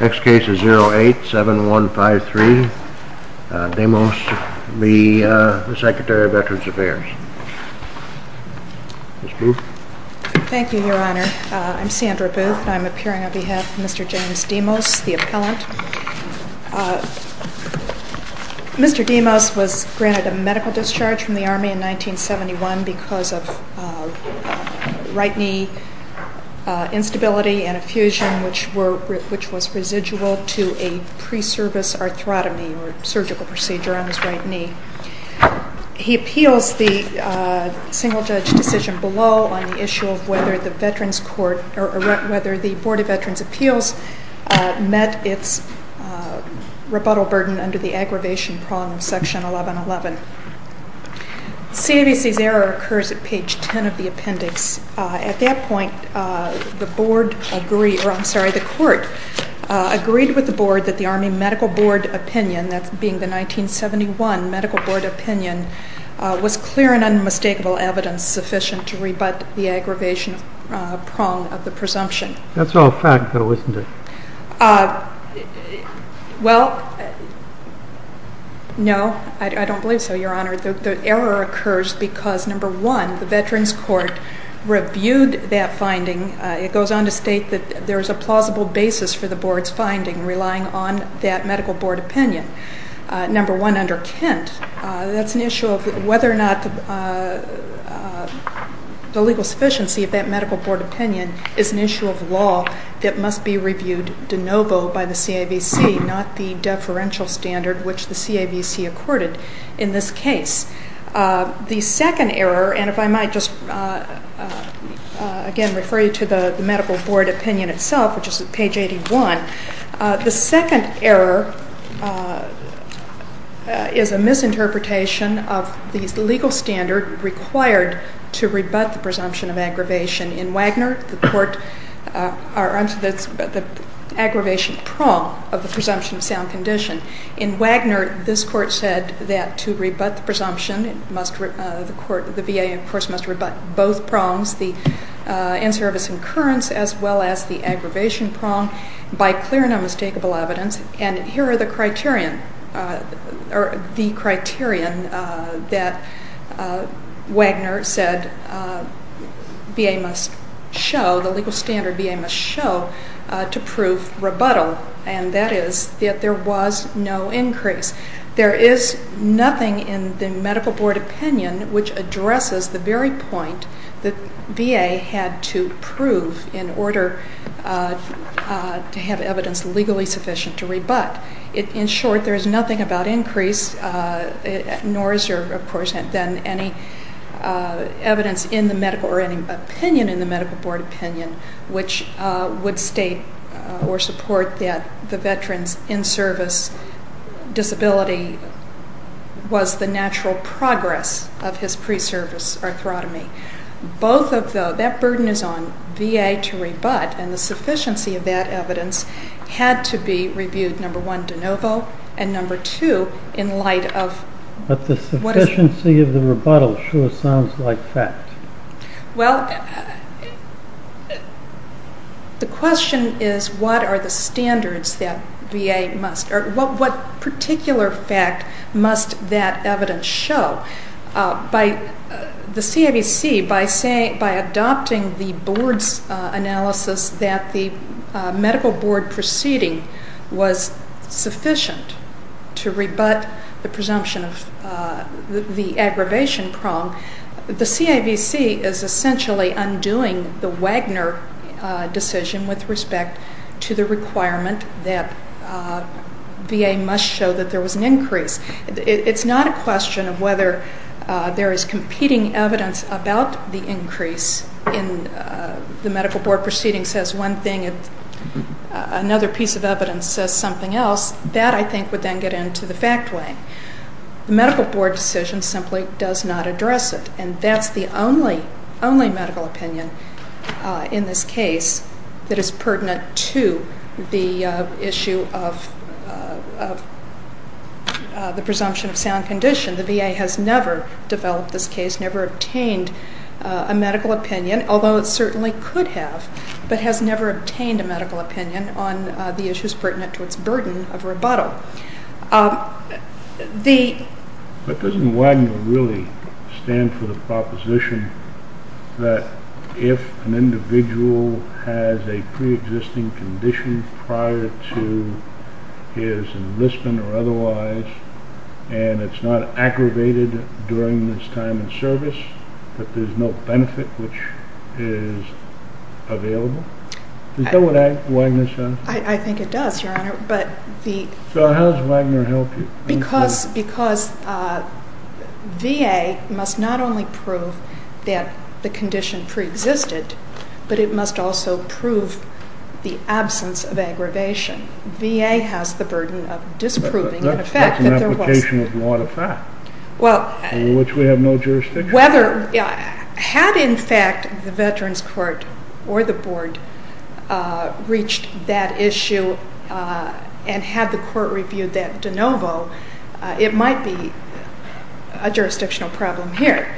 Next case is 08-7153, Demos v. Secretary of Veterans Affairs. Thank you, Your Honor. I'm Sandra Booth, and I'm appearing on behalf of Mr. James Demos, the appellant. Mr. Demos was granted a medical discharge from the Army in 1971 because of right knee instability and effusion, which was residual to a pre-service arthrotomy or surgical procedure on his right knee. He appeals the single-judge decision below on the issue of whether the Board of Veterans' Appeals met its rebuttal burden under the aggravation prong of Section 1111. CAVC's error occurs at page 10 of the appendix. At that point, the Court agreed with the Board that the Army Medical Board Opinion, that being the 1971 Medical Board Opinion, was clear and unmistakable evidence sufficient to rebut the aggravation prong of the presumption. That's all fact. You've got to listen to it. Well, no, I don't believe so, Your Honor. The error occurs because, number one, the Veterans Court reviewed that finding. It goes on to state that there is a plausible basis for the Board's finding relying on that Medical Board Opinion. Number one, under Kent, that's an issue of whether or not the legal sufficiency of that Medical Board Opinion is an issue of law that must be reviewed de novo by the CAVC, not the deferential standard which the CAVC accorded in this case. The second error, and if I might just again refer you to the Medical Board Opinion itself, which is at page 81, the second error is a misinterpretation of the legal standard required to rebut the presumption of aggravation. In Wagner, the Court, I'm sorry, the aggravation prong of the presumption of sound condition. In Wagner, this Court said that to rebut the presumption, the VA, of course, must rebut both prongs, the in-service incurrence as well as the aggravation prong, by clear and unmistakable evidence. And here are the criterion that Wagner said VA must show, the legal standard VA must show, to prove rebuttal, and that is that there was no increase. There is nothing in the Medical Board Opinion which addresses the very point that VA had to prove in order to have evidence legally sufficient to rebut. In short, there is nothing about increase, nor is there, of course, than any evidence in the Medical, or any opinion in the Medical Board Opinion, which would state or support that the veteran's in-service disability was the natural progress of his pre-service arthrotomy. Both of those, that burden is on VA to rebut, and the sufficiency of that evidence had to be reviewed, number one, de novo, and number two, in light of what is... Well, the question is what are the standards that VA must, or what particular fact must that evidence show? By the CAVC, by adopting the Board's analysis that the Medical Board proceeding was sufficient to rebut the presumption of the aggravation prong, the CAVC is essentially undoing the Wagner decision with respect to the requirement that VA must show that there was an increase. It's not a question of whether there is competing evidence about the increase in the Medical Board proceeding says one thing, another piece of evidence says something else. That, I think, would then get into the fact lane. The Medical Board decision simply does not address it, and that's the only medical opinion in this case that is pertinent to the issue of the presumption of sound condition. The VA has never developed this case, never obtained a medical opinion, although it certainly could have, but has never obtained a medical opinion on the issues pertinent to its burden of rebuttal. The... But doesn't Wagner really stand for the proposition that if an individual has a preexisting condition prior to his enlistment or otherwise, and it's not aggravated during this time in service, that there's no benefit which is available? Is that what Wagner says? I think it does, Your Honor, but the... So how does Wagner help you? Because VA must not only prove that the condition preexisted, but it must also prove the absence of aggravation. VA has the burden of disproving the fact that there was... That's like an application of law to fact, in which we have no jurisdiction. Whether... Had, in fact, the Veterans Court or the Board reached that issue and had the Court reviewed that de novo, it might be a jurisdictional problem here,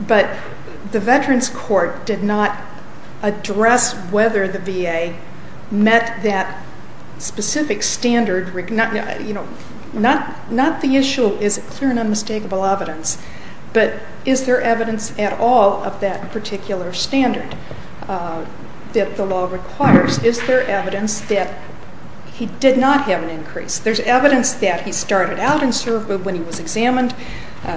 but the Veterans Court did not address whether the VA met that specific standard. You know, not the issue is clear and unmistakable evidence, but is there evidence at all of that particular standard that the law requires? Is there evidence that he did not have an increase? There's evidence that he started out in service when he was examined,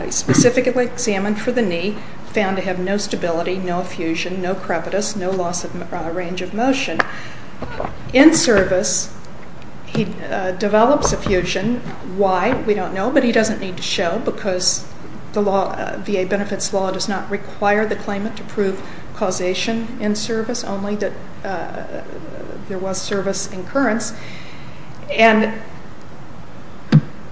specifically examined for the knee, found to have no stability, no effusion, no crevitus, no loss of range of motion. In service, he develops effusion. Why? We don't know, but he doesn't need to show, because the VA benefits law does not require the claimant to prove causation in service, only that there was service incurrence. And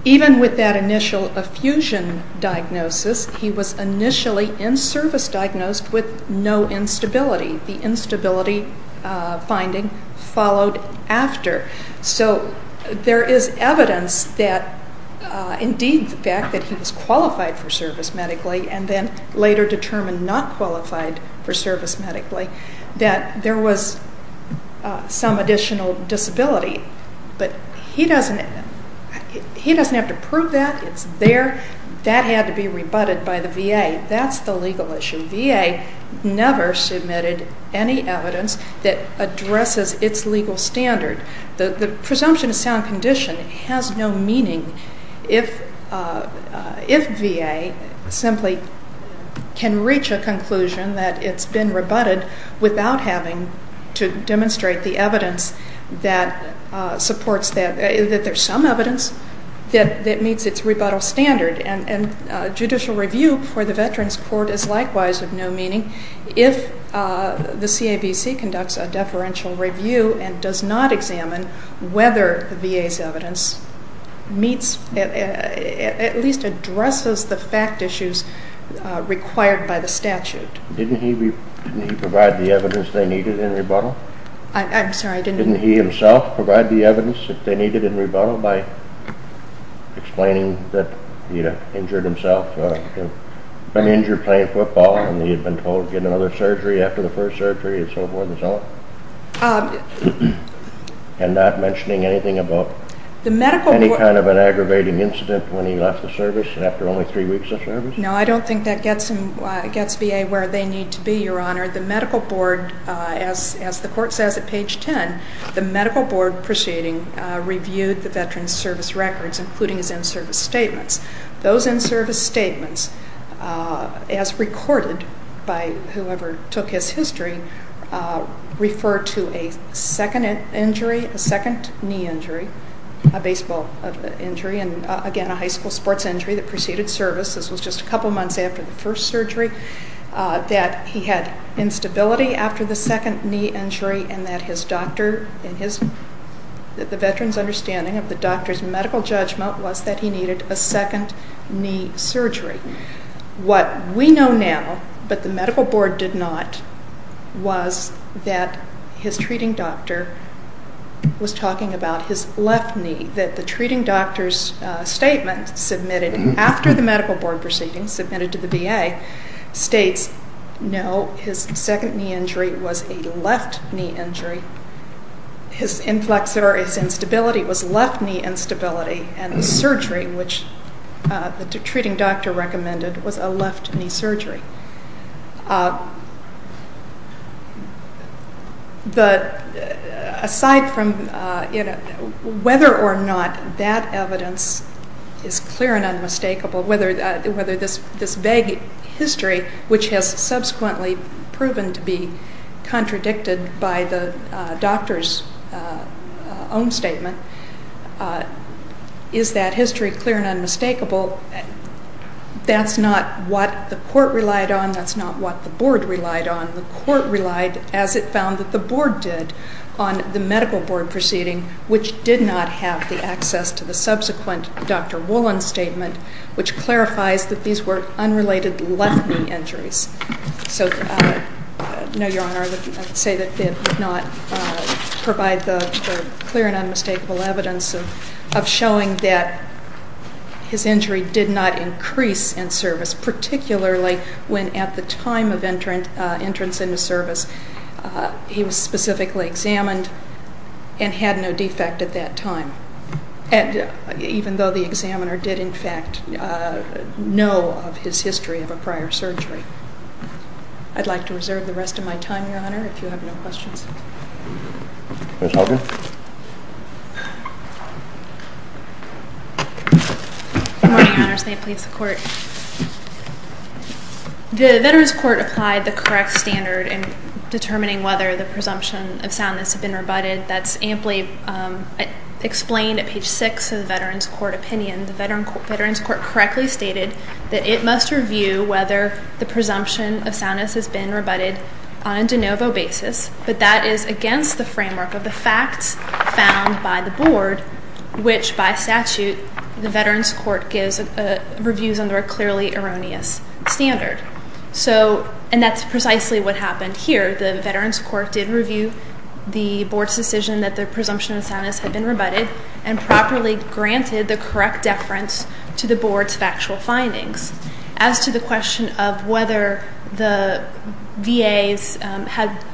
even with that initial effusion diagnosis, he was initially in service diagnosed with no instability. The instability finding followed after. So there is evidence that indeed the fact that he was qualified for service medically and then later determined not qualified for service medically, that there was some additional disability. But he doesn't have to prove that. It's there. That had to be rebutted by the VA. That's the legal issue. VA never submitted any evidence that addresses its legal standard. The presumption of sound condition has no meaning if VA simply can reach a conclusion that it's been rebutted without having to demonstrate the evidence that supports that, that there's some evidence that meets its rebuttal standard. And judicial review for the Veterans Court is likewise of no meaning if the CABC conducts a deferential review and does not examine whether the VA's evidence meets, at least addresses the fact issues required by the statute. Didn't he provide the evidence they needed in rebuttal? I'm sorry. Didn't he himself provide the evidence that they needed in rebuttal by explaining that he had injured himself, been injured playing football, and he had been told to get another surgery after the first surgery, and so forth and so on? And not mentioning anything about any kind of an aggravating incident when he left the service after only three weeks of service? No, I don't think that gets VA where they need to be, Your Honor. The medical board, as the Court says at page 10, the medical board proceeding reviewed the Veterans Service records, including his in-service statements. Those in-service statements, as recorded by whoever took his history, refer to a second injury, a second knee injury, a baseball injury, and again a high school sports injury that preceded service. This was just a couple months after the first surgery, that he had instability after the second knee injury and that his doctor and the veteran's understanding of the doctor's medical judgment was that he needed a second knee surgery. What we know now, but the medical board did not, was that his treating doctor was talking about his left knee, that the treating doctor's statement submitted after the medical board proceeding, submitted to the VA, states, no, his second knee injury was a left knee injury, his inflexor, his instability was left knee instability, and the surgery, which the treating doctor recommended, was a left knee surgery. Aside from whether or not that evidence is clear and unmistakable, whether this vague history, which has subsequently proven to be contradicted by the doctor's own statement, is that history clear and unmistakable, that's not what the court relied on. That's not what the board relied on. The court relied, as it found that the board did, on the medical board proceeding, which did not have the access to the subsequent Dr. Woolen statement, which clarifies that these were unrelated left knee injuries. So, no, Your Honor, I would say that it did not provide the clear and unmistakable evidence of showing that his injury did not increase in service, particularly when at the time of entrance into service he was specifically examined and had no defect at that time, even though the examiner did, in fact, know of his history of a prior surgery. I'd like to reserve the rest of my time, Your Honor, if you have no questions. Good morning, Your Honors. May it please the Court. The Veterans Court applied the correct standard in determining whether the presumption of soundness had been rebutted. And that's amply explained at page 6 of the Veterans Court opinion. The Veterans Court correctly stated that it must review whether the presumption of soundness has been rebutted on a de novo basis, but that is against the framework of the facts found by the board, which, by statute, the Veterans Court gives reviews under a clearly erroneous standard. So, and that's precisely what happened here. The Veterans Court did review the board's decision that the presumption of soundness had been rebutted and properly granted the correct deference to the board's factual findings. As to the question of whether the VA's had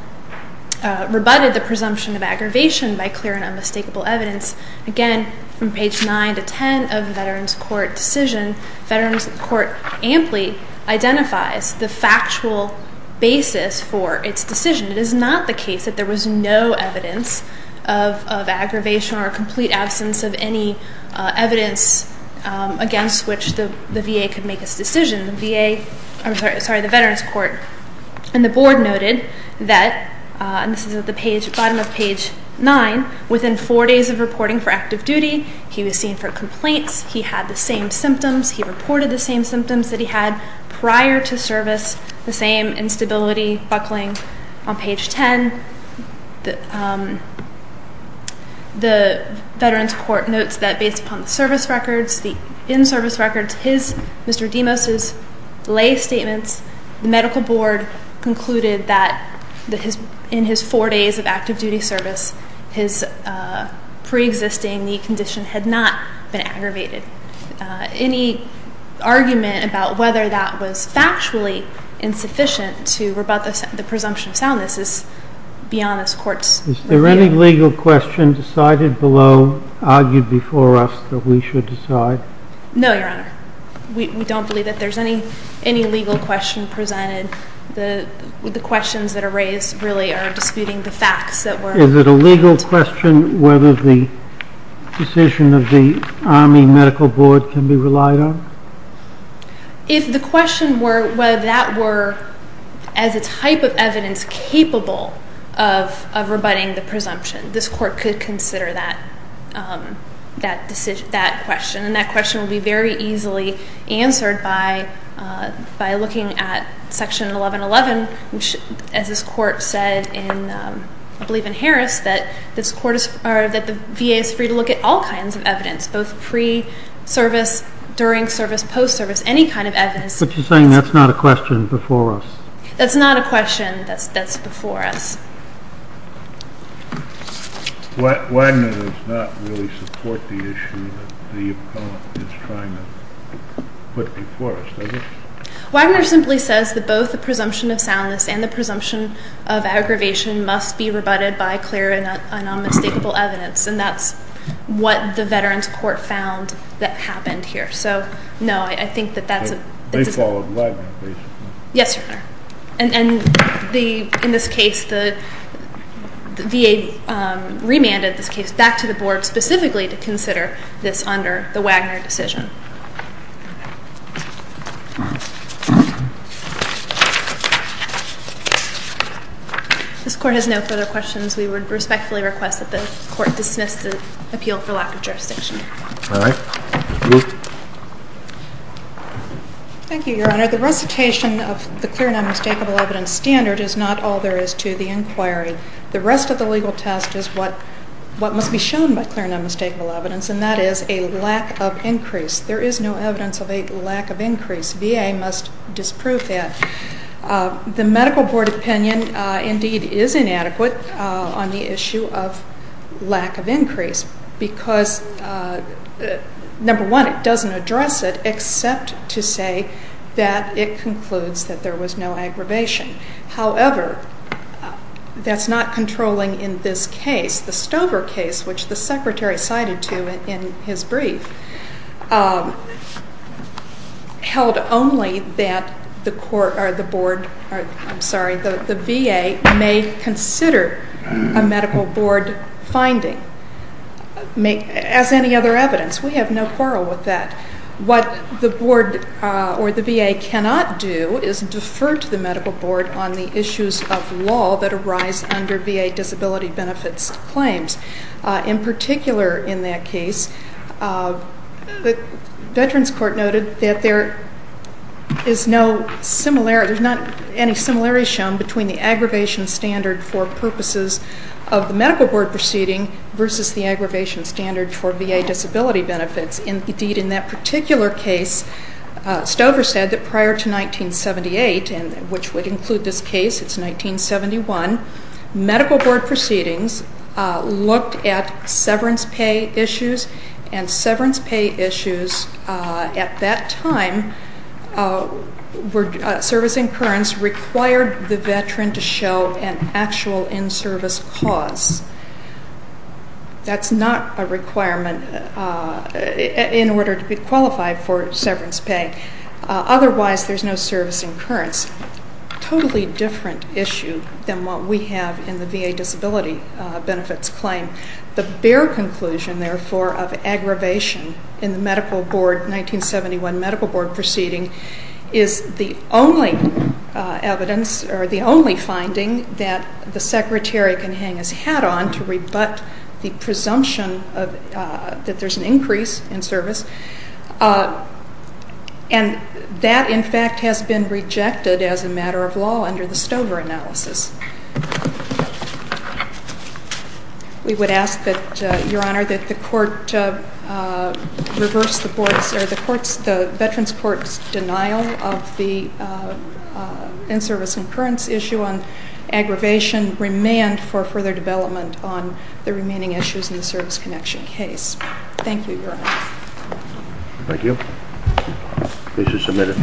rebutted the presumption of aggravation by clear and unmistakable evidence, again, from page 9 to 10 of the Veterans Court decision, Veterans Court amply identifies the factual basis for its decision. It is not the case that there was no evidence of aggravation or a complete absence of any evidence against which the VA could make its decision. The VA, I'm sorry, the Veterans Court and the board noted that, and this is at the bottom of page 9, within four days of reporting for active duty, he was seen for complaints, he had the same symptoms, he reported the same symptoms that he had prior to service, the same instability buckling on page 10. The Veterans Court notes that based upon the service records, the in-service records, Mr. Demos's lay statements, the medical board concluded that in his four days of active duty service, his pre-existing knee condition had not been aggravated. Any argument about whether that was factually insufficient to rebut the presumption of soundness is beyond this Court's review. Is there any legal question decided below, argued before us, that we should decide? No, Your Honor. We don't believe that there's any legal question presented. The questions that are raised really are disputing the facts that were raised. Is it a legal question whether the decision of the Army Medical Board can be relied on? If the question were whether that were, as a type of evidence, capable of rebutting the presumption, this Court could consider that question, and that question would be very easily answered by looking at Section 1111, which, as this Court said, I believe in Harris, that the VA is free to look at all kinds of evidence, both pre-service, during service, post-service, any kind of evidence. But you're saying that's not a question before us? That's not a question that's before us. Wagner does not really support the issue that the opponent is trying to put before us, does he? Wagner simply says that both the presumption of soundness and the presumption of aggravation must be rebutted by clear and unmistakable evidence, and that's what the Veterans Court found that happened here. So, no, I think that that's a... They followed Wagner, basically. Yes, Your Honor. And in this case, the VA remanded this case back to the Board specifically to consider this under the Wagner decision. If this Court has no further questions, we would respectfully request that the Court dismiss the appeal for lack of jurisdiction. All right. Ms. Booth? Thank you, Your Honor. The recitation of the clear and unmistakable evidence standard is not all there is to the inquiry. The rest of the legal test is what must be shown by clear and unmistakable evidence, and that is a lack of increase. There is no evidence of a lack of increase. VA must disprove that. The Medical Board opinion indeed is inadequate on the issue of lack of increase because, number one, it doesn't address it except to say that it concludes that there was no aggravation. However, that's not controlling in this case. The Stover case, which the Secretary cited to in his brief, held only that the VA may consider a Medical Board finding as any other evidence. We have no quarrel with that. What the Board or the VA cannot do is defer to the Medical Board on the issues of law that arise under VA disability benefits claims. In particular in that case, the Veterans Court noted that there is no similarity. There's not any similarity shown between the aggravation standard for purposes of the Medical Board proceeding versus the aggravation standard for VA disability benefits. Indeed, in that particular case, Stover said that prior to 1978, which would include this case, it's 1971, Medical Board proceedings looked at severance pay issues, and severance pay issues at that time, service incurrence, required the Veteran to show an actual in-service cause. That's not a requirement in order to be qualified for severance pay. Otherwise, there's no service incurrence. That's a totally different issue than what we have in the VA disability benefits claim. The bare conclusion, therefore, of aggravation in the 1971 Medical Board proceeding is the only evidence or the only finding that the Secretary can hang his hat on to rebut the presumption that there's an increase in service. And that, in fact, has been rejected as a matter of law under the Stover analysis. We would ask that, Your Honor, that the Court reverse the Board's or the Veterans Court's denial of the in-service incurrence issue on aggravation, remand for further development on the remaining issues in the service connection case. Thank you, Your Honor. Thank you. Case is submitted.